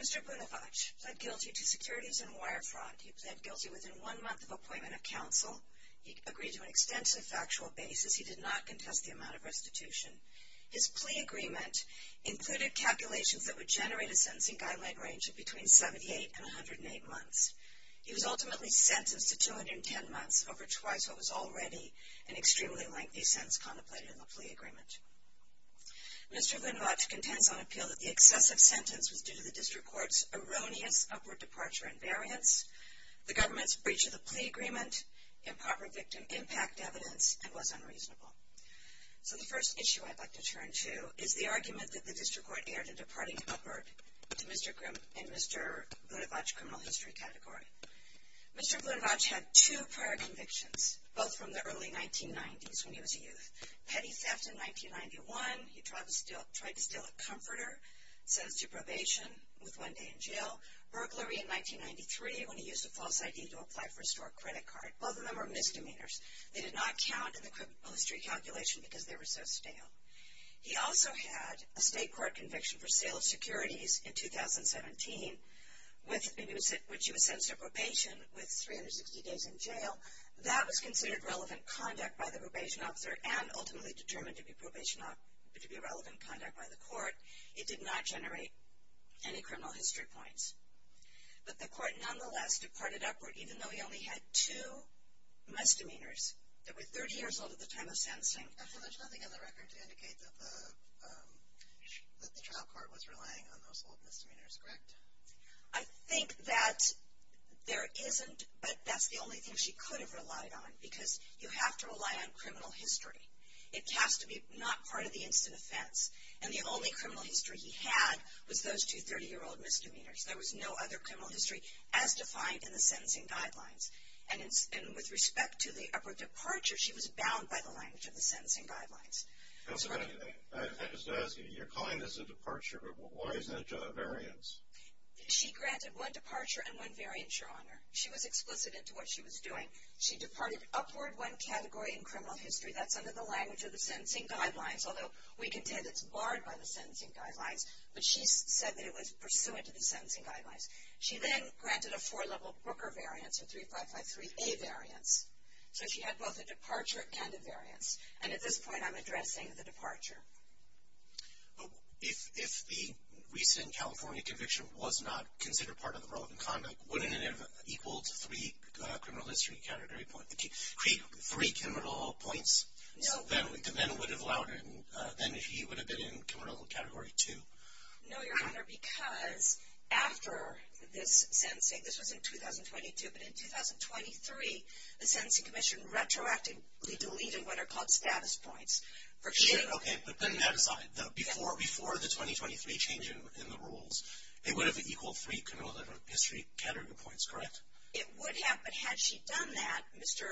Mr. Bunevacz pleaded guilty to securities and wire fraud. He pleaded guilty within one month of appointment of counsel. He agreed to an extensive factual basis. He did not contest the amount of restitution. His plea agreement included calculations that would generate a sentencing guideline range of between 78 and 108 months. He was ultimately sentenced to 210 months, over twice what was already an extremely lengthy sentence contemplated in the plea agreement. Mr. Bunevacz contends on appeal that the excessive sentence was due to the district court's erroneous upward departure in variance, the government's breach of the plea agreement, improper victim impact evidence, and was unreasonable. So the first issue I'd like to turn to is the argument that the district court erred in departing upward in Mr. Bunevacz's criminal history category. Mr. Bunevacz had two prior convictions, both from the early 1990s when he was a youth. Petty theft in 1991, he tried to steal a comforter, sentenced to probation with one day in jail, burglary in 1993 when he used a false ID to apply for a store credit card. Both of them were misdemeanors. They did not count in the criminal history calculation because they were so stale. He also had a state court conviction for sale of securities in 2017, in which he was sentenced to probation with 360 days in jail. That was considered relevant conduct by the probation officer and ultimately determined to be relevant conduct by the court. It did not generate any criminal history points. But the court nonetheless departed upward even though he only had two misdemeanors. They were 30 years old at the time of sentencing. There's nothing in the record to indicate that the trial court was relying on those old misdemeanors, correct? I think that there isn't, but that's the only thing she could have relied on because you have to rely on criminal history. It has to be not part of the instant offense. And the only criminal history he had was those two 30-year-old misdemeanors. There was no other criminal history as defined in the sentencing guidelines. And with respect to the upward departure, she was bound by the language of the sentencing guidelines. I was going to ask you, you're calling this a departure, but why isn't it a variance? She granted one departure and one variance, Your Honor. She was explicit into what she was doing. She departed upward one category in criminal history. That's under the language of the sentencing guidelines, although we can tell that it's barred by the sentencing guidelines. But she said that it was pursuant to the sentencing guidelines. She then granted a four-level Brooker variance, a 3553A variance. So she had both a departure and a variance. And at this point, I'm addressing the departure. If the recent California conviction was not considered part of the relevant conduct, wouldn't it have equaled three criminal history category points? Three criminal points? No. Then he would have been in criminal category two. No, Your Honor, because after this sentencing, this was in 2022, but in 2023, the Sentencing Commission retroactively deleted what are called status points for two. Okay, but putting that aside, before the 2023 change in the rules, it would have equaled three criminal history category points, correct? It would have. But had she done that, Mr.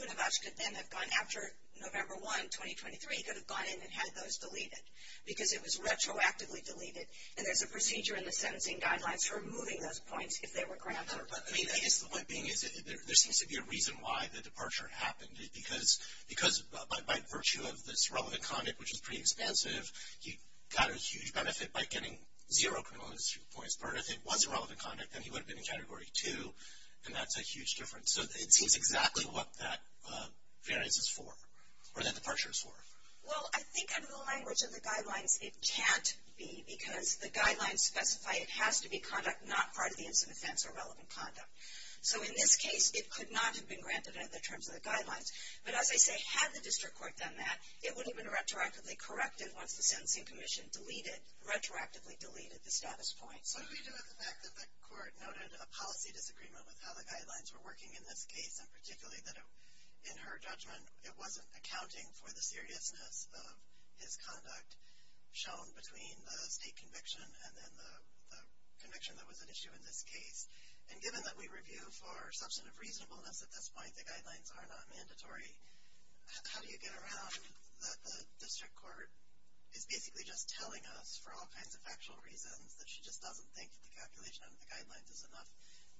Bunovac could then have gone after November 1, 2023, he could have gone in and had those deleted because it was retroactively deleted. And there's a procedure in the sentencing guidelines for removing those points if they were granted. I mean, I guess the point being is there seems to be a reason why the departure happened. Because by virtue of this relevant conduct, which is pretty expansive, he got a huge benefit by getting zero criminal history points. But if it was relevant conduct, then he would have been in category two, and that's a huge difference. So it seems exactly what that variance is for, or that departure is for. Well, I think under the language of the guidelines, it can't be, because the guidelines specify it has to be conduct not part of the incident offense or relevant conduct. So in this case, it could not have been granted under the terms of the guidelines. But as I say, had the district court done that, it would have been retroactively corrected once the sentencing commission deleted, retroactively deleted the status points. What do we do with the fact that the court noted a policy disagreement with how the guidelines were working in this case, and particularly that in her judgment it wasn't accounting for the seriousness of his conduct shown between the state conviction and then the conviction that was at issue in this case? And given that we review for substantive reasonableness at this point, the guidelines are not mandatory, how do you get around that the district court is basically just telling us, for all kinds of factual reasons, that she just doesn't think that the calculation under the guidelines is enough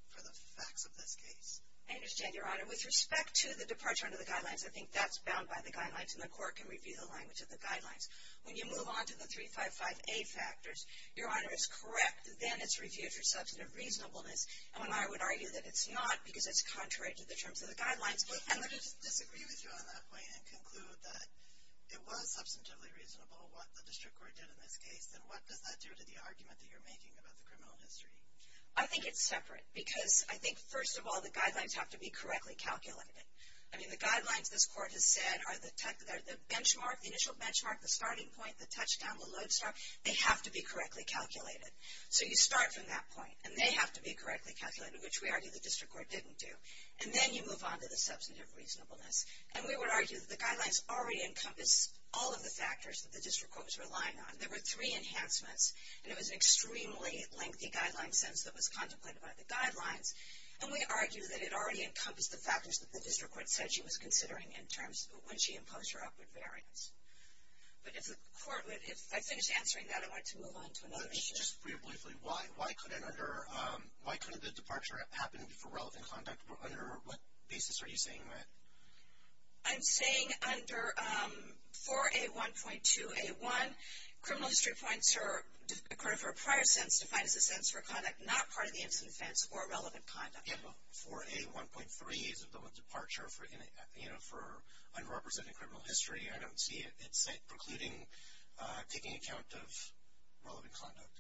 for the facts of this case? I understand, Your Honor. With respect to the departure under the guidelines, I think that's bound by the guidelines, and the court can review the language of the guidelines. When you move on to the 355A factors, Your Honor, it's correct. Then it's reviewed for substantive reasonableness, and I would argue that it's not because it's contrary to the terms of the guidelines. Let me just disagree with you on that point and conclude that it was substantively reasonable what the district court did in this case, and what does that do to the argument that you're making about the criminal history? I think it's separate because I think, first of all, the guidelines have to be correctly calculated. I mean, the guidelines, this court has said, are the benchmark, the initial benchmark, the starting point, the touchdown, the load stop. They have to be correctly calculated. So you start from that point, and they have to be correctly calculated, which we argue the district court didn't do. And then you move on to the substantive reasonableness. And we would argue that the guidelines already encompass all of the factors that the district court was relying on. There were three enhancements, and it was an extremely lengthy guideline sentence that was contemplated by the guidelines. And we argue that it already encompassed the factors that the district court said she was considering in terms of when she imposed her upward variance. But if I finish answering that, I want to move on to another issue. Just briefly, why couldn't the departure happen for relevant conduct? Under what basis are you saying that? I'm saying under 4A1.2A1, criminal history points are, for a prior sentence, defined as a sentence for conduct not part of the incident offense or relevant conduct. 4A1.3 is a departure for underrepresenting criminal history. I don't see it precluding taking account of relevant conduct.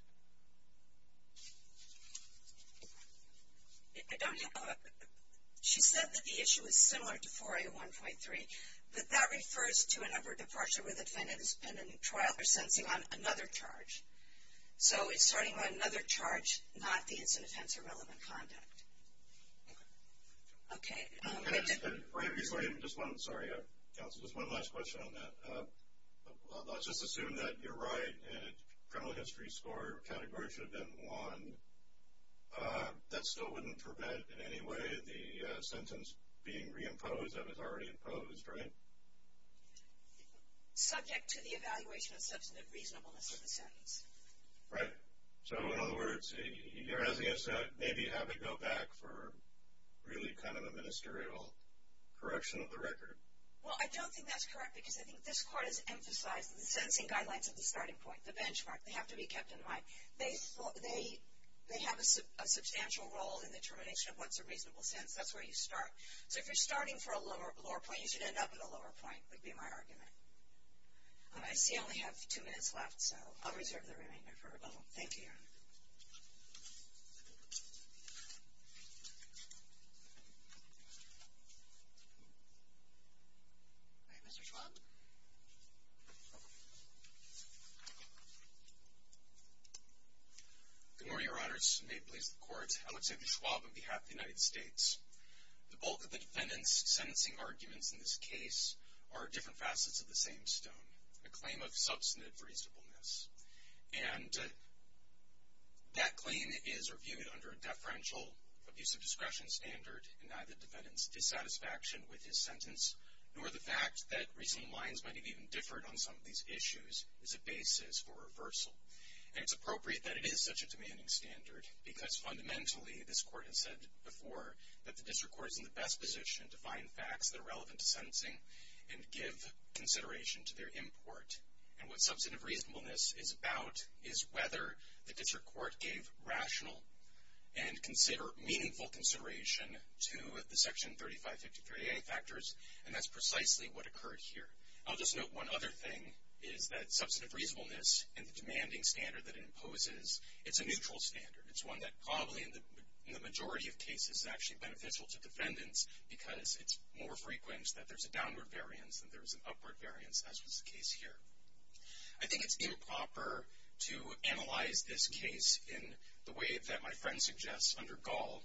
She said that the issue is similar to 4A1.3, but that refers to an upward departure where the defendant is pending trial or sentencing on another charge. So it's starting on another charge, not the incident offense or relevant conduct. Sorry, counsel, just one last question on that. Let's just assume that you're right, and a criminal history score category should have been won. That still wouldn't prevent in any way the sentence being reimposed that was already imposed, right? Subject to the evaluation of substantive reasonableness of the sentence. Right. So, in other words, you're asking us to maybe have it go back for really kind of a ministerial correction of the record. Well, I don't think that's correct, because I think this Court has emphasized the sentencing guidelines at the starting point, the benchmark. They have to be kept in mind. They have a substantial role in the determination of what's a reasonable sentence. That's where you start. So if you're starting for a lower point, you should end up at a lower point, would be my argument. I see I only have two minutes left, so I'll reserve the remainder for a moment. Thank you, Your Honor. All right, Mr. Schwab. Good morning, Your Honors. May it please the Court, I would say the Schwab on behalf of the United States. The bulk of the defendant's sentencing arguments in this case are different facets of the same stone, a claim of substantive reasonableness. And that claim is reviewed under a deferential abuse of discretion standard and neither defendant's dissatisfaction with his sentence, nor the fact that reasoning lines might have even differed on some of these issues, is a basis for reversal. And it's appropriate that it is such a demanding standard, because fundamentally, this Court has said before, that the district court is in the best position to find facts that are relevant to sentencing and give consideration to their import. And what substantive reasonableness is about is whether the district court gave rational and consider meaningful consideration to the Section 3553A factors, and that's precisely what occurred here. I'll just note one other thing is that substantive reasonableness and the demanding standard that it imposes, it's a neutral standard. It's one that probably in the majority of cases is actually beneficial to defendants, because it's more frequent that there's a downward variance than there's an upward variance, as was the case here. I think it's improper to analyze this case in the way that my friend suggests under Gall,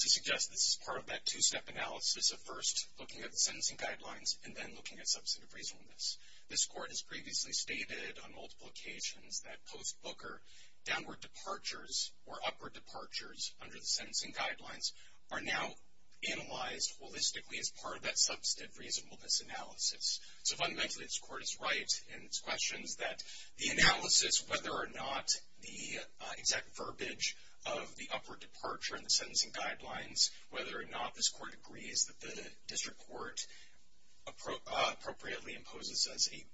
to suggest this is part of that two-step analysis of first looking at the sentencing guidelines and then looking at substantive reasonableness. This Court has previously stated on multiple occasions that post-Booker, downward departures or upward departures under the sentencing guidelines are now analyzed holistically as part of that substantive reasonableness analysis. So fundamentally, this Court is right in its questions that the analysis, whether or not the exact verbiage of the upward departure in the sentencing guidelines, whether or not this Court agrees that the district court appropriately imposes as a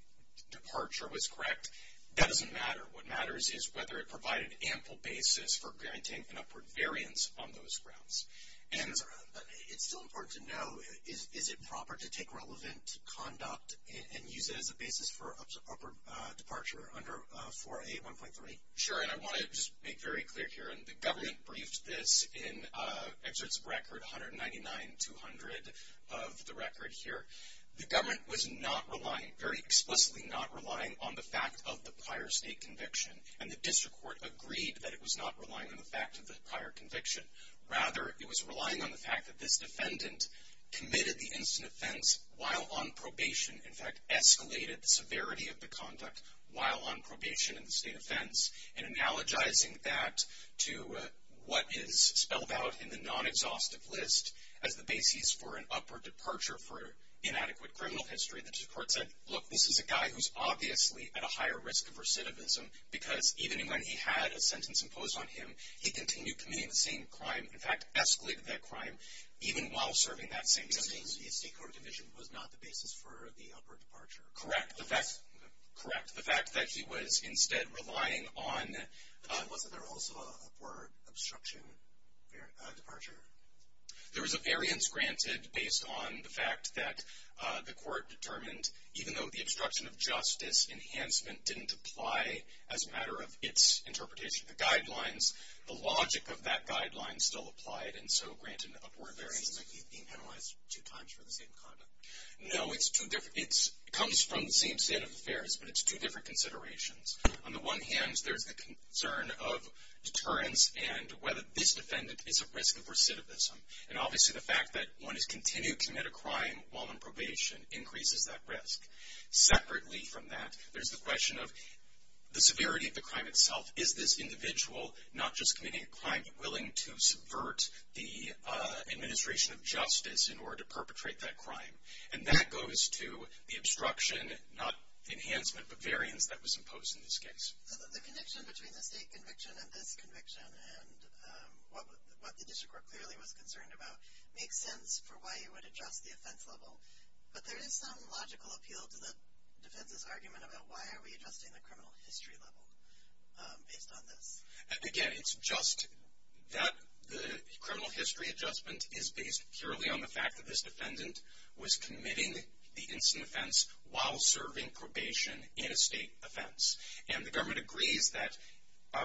departure was correct, that doesn't matter. What matters is whether it provided ample basis for guaranteeing an upward variance on those grounds. And it's still important to know, is it proper to take relevant conduct and use it as a basis for upward departure under 4A1.3? Sure, and I want to just make very clear here, and the government briefed this in Exerts of Record 199-200 of the record here. The government was not relying, very explicitly not relying on the fact of the prior state conviction. And the district court agreed that it was not relying on the fact of the prior conviction. Rather, it was relying on the fact that this defendant committed the instant offense while on probation. In fact, escalated the severity of the conduct while on probation in the state offense. And analogizing that to what is spelled out in the non-exhaustive list as the basis for an upward departure for inadequate criminal history, the district court said, look, this is a guy who's obviously at a higher risk of recidivism because even when he had a sentence imposed on him, he continued committing the same crime. In fact, escalated that crime even while serving that same sentence. His state court conviction was not the basis for the upward departure. Correct. The fact that he was instead relying on. Wasn't there also an upward obstruction departure? There was a variance granted based on the fact that the court determined even though the obstruction of justice enhancement didn't apply as a matter of its interpretation of the guidelines, the logic of that guideline still applied and so granted an upward variance. So he's being penalized two times for the same conduct? No, it comes from the same set of affairs, but it's two different considerations. On the one hand, there's the concern of deterrence and whether this defendant is at risk of recidivism. And obviously the fact that one has continued to commit a crime while on probation increases that risk. Separately from that, there's the question of the severity of the crime itself. Is this individual not just committing a crime but willing to subvert the administration of justice in order to perpetrate that crime? And that goes to the obstruction, not enhancement, but variance that was imposed in this case. The connection between the state conviction and this conviction and what the district court clearly was concerned about makes sense for why you would adjust the offense level. But there is some logical appeal to the defense's argument about why are we adjusting the criminal history level based on this? Again, it's just that the criminal history adjustment is based purely on the fact that this defendant was committing the instant offense while serving probation in a state offense. And the government agrees that,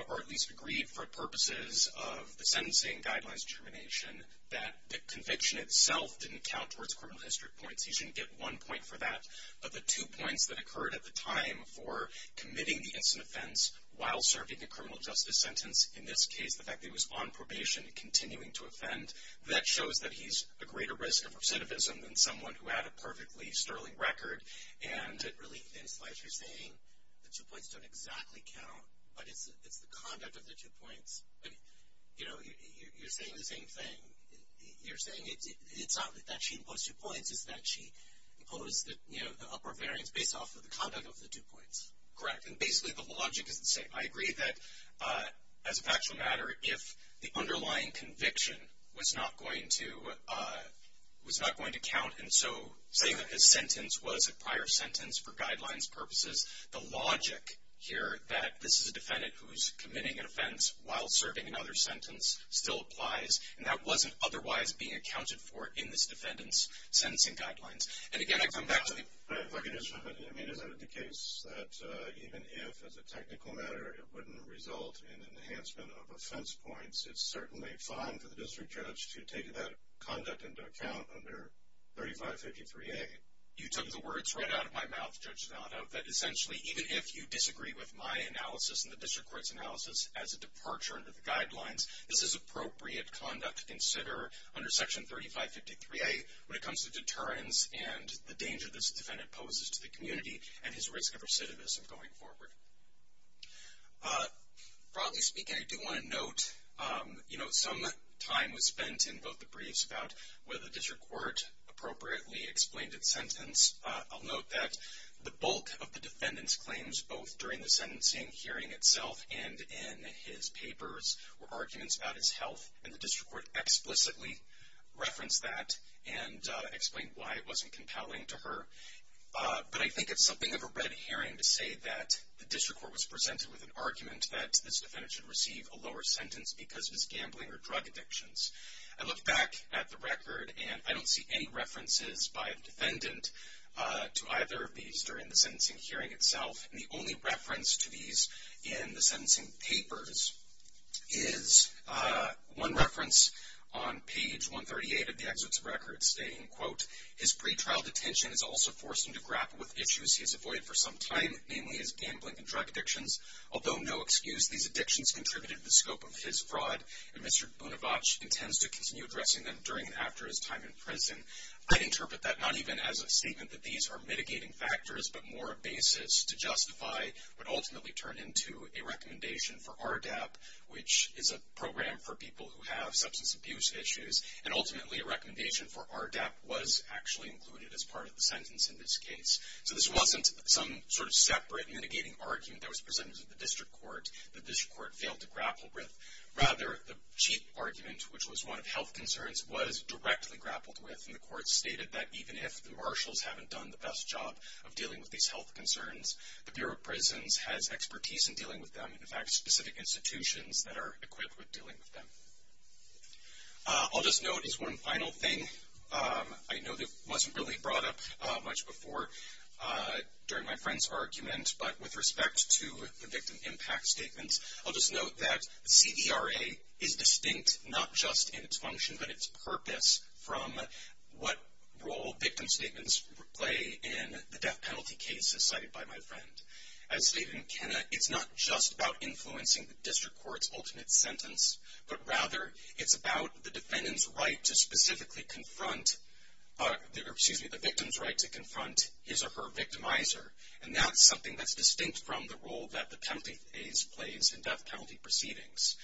or at least agreed for purposes of the sentencing guidelines determination, that the conviction itself didn't count towards criminal history points. You shouldn't get one point for that. But the two points that occurred at the time for committing the instant offense while serving the criminal justice sentence, in this case the fact that he was on probation and continuing to offend, that shows that he's a greater risk of recidivism than someone who had a perfectly sterling record. And really, in a sense, you're saying the two points don't exactly count, but it's the conduct of the two points. But, you know, you're saying the same thing. You're saying it's not that she imposed two points, it's that she imposed the upper variance based off of the conduct of the two points. Correct. And basically the logic is the same. I agree that, as a factual matter, if the underlying conviction was not going to count, and so saying that his sentence was a prior sentence for guidelines purposes, the logic here that this is a defendant who's committing an offense while serving another sentence still applies. And that wasn't otherwise being accounted for in this defendant's sentencing guidelines. And, again, I come back to the... If I could just comment. I mean, is that the case that even if, as a technical matter, it wouldn't result in an enhancement of offense points, it's certainly fine for the district judge to take that conduct into account under 3553A? You took the words right out of my mouth, Judge Zanotto, that essentially even if you disagree with my analysis and the district court's analysis as a departure under the guidelines, this is appropriate conduct to consider under Section 3553A when it comes to deterrence and the danger this defendant poses to the community and his risk of recidivism going forward. Broadly speaking, I do want to note, you know, some time was spent in both the briefs about whether the district court appropriately explained its sentence. I'll note that the bulk of the defendant's claims, both during the sentencing hearing itself and in his papers, were arguments about his health, and the district court explicitly referenced that and explained why it wasn't compelling to her. But I think it's something of a red herring to say that the district court was presented with an argument that this defendant should receive a lower sentence because of his gambling or drug addictions. I look back at the record, and I don't see any references by the defendant to either of these during the sentencing hearing itself. And the only reference to these in the sentencing papers is one reference on page 138 of the Exerts of Records stating, quote, his pretrial detention has also forced him to grapple with issues he has avoided for some time, namely his gambling and drug addictions. Although no excuse, these addictions contributed to the scope of his fraud, and Mr. Bonavage intends to continue addressing them during and after his time in prison. I'd interpret that not even as a statement that these are mitigating factors, but more a basis to justify what ultimately turned into a recommendation for RDAP, which is a program for people who have substance abuse issues. And ultimately, a recommendation for RDAP was actually included as part of the sentence in this case. So this wasn't some sort of separate mitigating argument that was presented to the district court that the district court failed to grapple with. Rather, the chief argument, which was one of health concerns, was directly grappled with, and the court stated that even if the marshals haven't done the best job of dealing with these health concerns, the Bureau of Prisons has expertise in dealing with them, and in fact, specific institutions that are equipped with dealing with them. I'll just note as one final thing, I know that it wasn't really brought up much before during my friend's argument, but with respect to the victim impact statements, I'll just note that CDRA is distinct not just in its function, but its purpose from what role victim statements play in the death penalty cases cited by my friend. As stated in Kenna, it's not just about influencing the district court's ultimate sentence, but rather it's about the defendant's right to specifically confront, excuse me, the victim's right to confront his or her victimizer. And that's something that's distinct from the role that the penalty phase plays in death penalty proceedings.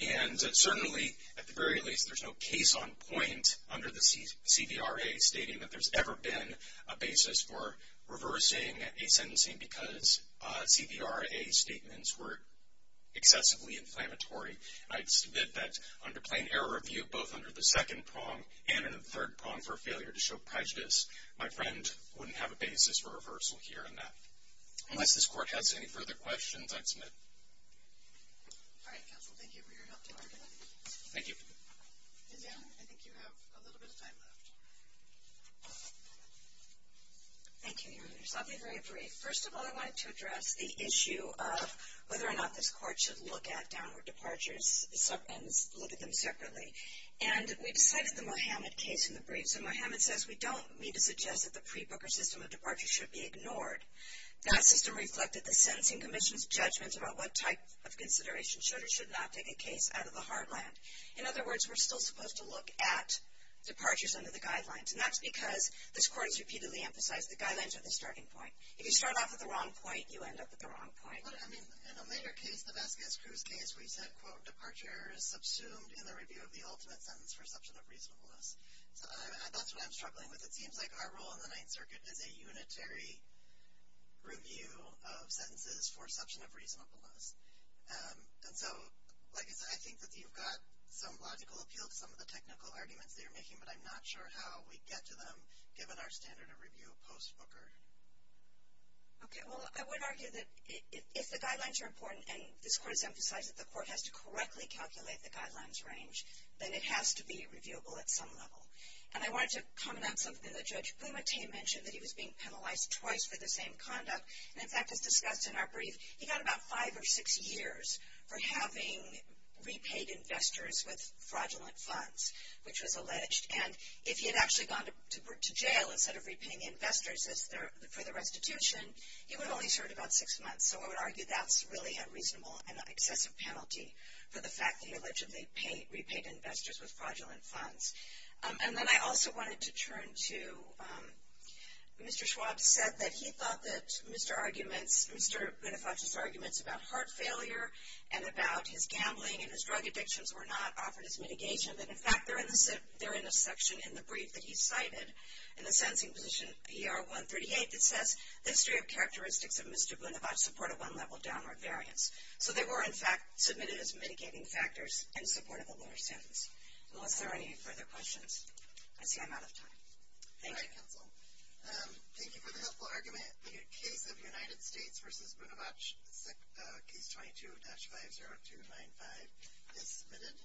And certainly, at the very least, there's no case on point under the CDRA stating that there's ever been a basis for reversing a sentencing because CDRA statements were excessively inflammatory. I submit that under plain error review, both under the second prong and in the third prong for failure to show prejudice, my friend wouldn't have a basis for reversal here in that. Unless this court has any further questions, I'd submit. All right, counsel, thank you for your helpful argument. Thank you. And Dan, I think you have a little bit of time left. Thank you, Your Honors. I'll be very brief. First of all, I wanted to address the issue of whether or not this court should look at downward departures and look at them separately. And we decided the Mohammed case in the brief. So Mohammed says we don't need to suggest that the pre-booker system of departure should be ignored. That system reflected the sentencing commission's judgments about what type of consideration should or should not take a case out of the heartland. In other words, we're still supposed to look at departures under the guidelines. And that's because this court has repeatedly emphasized the guidelines are the starting point. If you start off at the wrong point, you end up at the wrong point. But, I mean, in O'Meara case, the Vasquez-Crews case, we said, quote, departure is subsumed in the review of the ultimate sentence for substantive reasonableness. So that's what I'm struggling with. It seems like our role in the Ninth Circuit is a unitary review of sentences for substantive reasonableness. And so, like I said, I think that you've got some logical appeal to some of the technical arguments that you're making, but I'm not sure how we get to them given our standard of review post-booker. Okay. Well, I would argue that if the guidelines are important and this court has emphasized that the court has to correctly calculate the guidelines range, then it has to be reviewable at some level. And I wanted to comment on something that Judge Blumenthal mentioned, that he was being penalized twice for the same conduct. And, in fact, as discussed in our brief, he got about five or six years for having repaid investors with fraudulent funds, which was alleged. And if he had actually gone to jail instead of repaying investors for the restitution, he would have only served about six months. So I would argue that's really a reasonable and excessive penalty for the fact that he allegedly repaid investors with fraudulent funds. And then I also wanted to turn to, Mr. Schwab said that he thought that Mr. Bonifacio's arguments about heart failure and about his gambling and his drug addictions were not offered as mitigation. And, in fact, they're in a section in the brief that he cited in the sentencing position PR 138 that says the history of characteristics of Mr. Bonifacio support a one-level downward variance. So they were, in fact, submitted as mitigating factors in support of a lower sentence. Unless there are any further questions. I see I'm out of time. Thank you. All right, counsel. Thank you for the helpful argument. The case of United States v. Bonifacio, Case 22-50295 is submitted.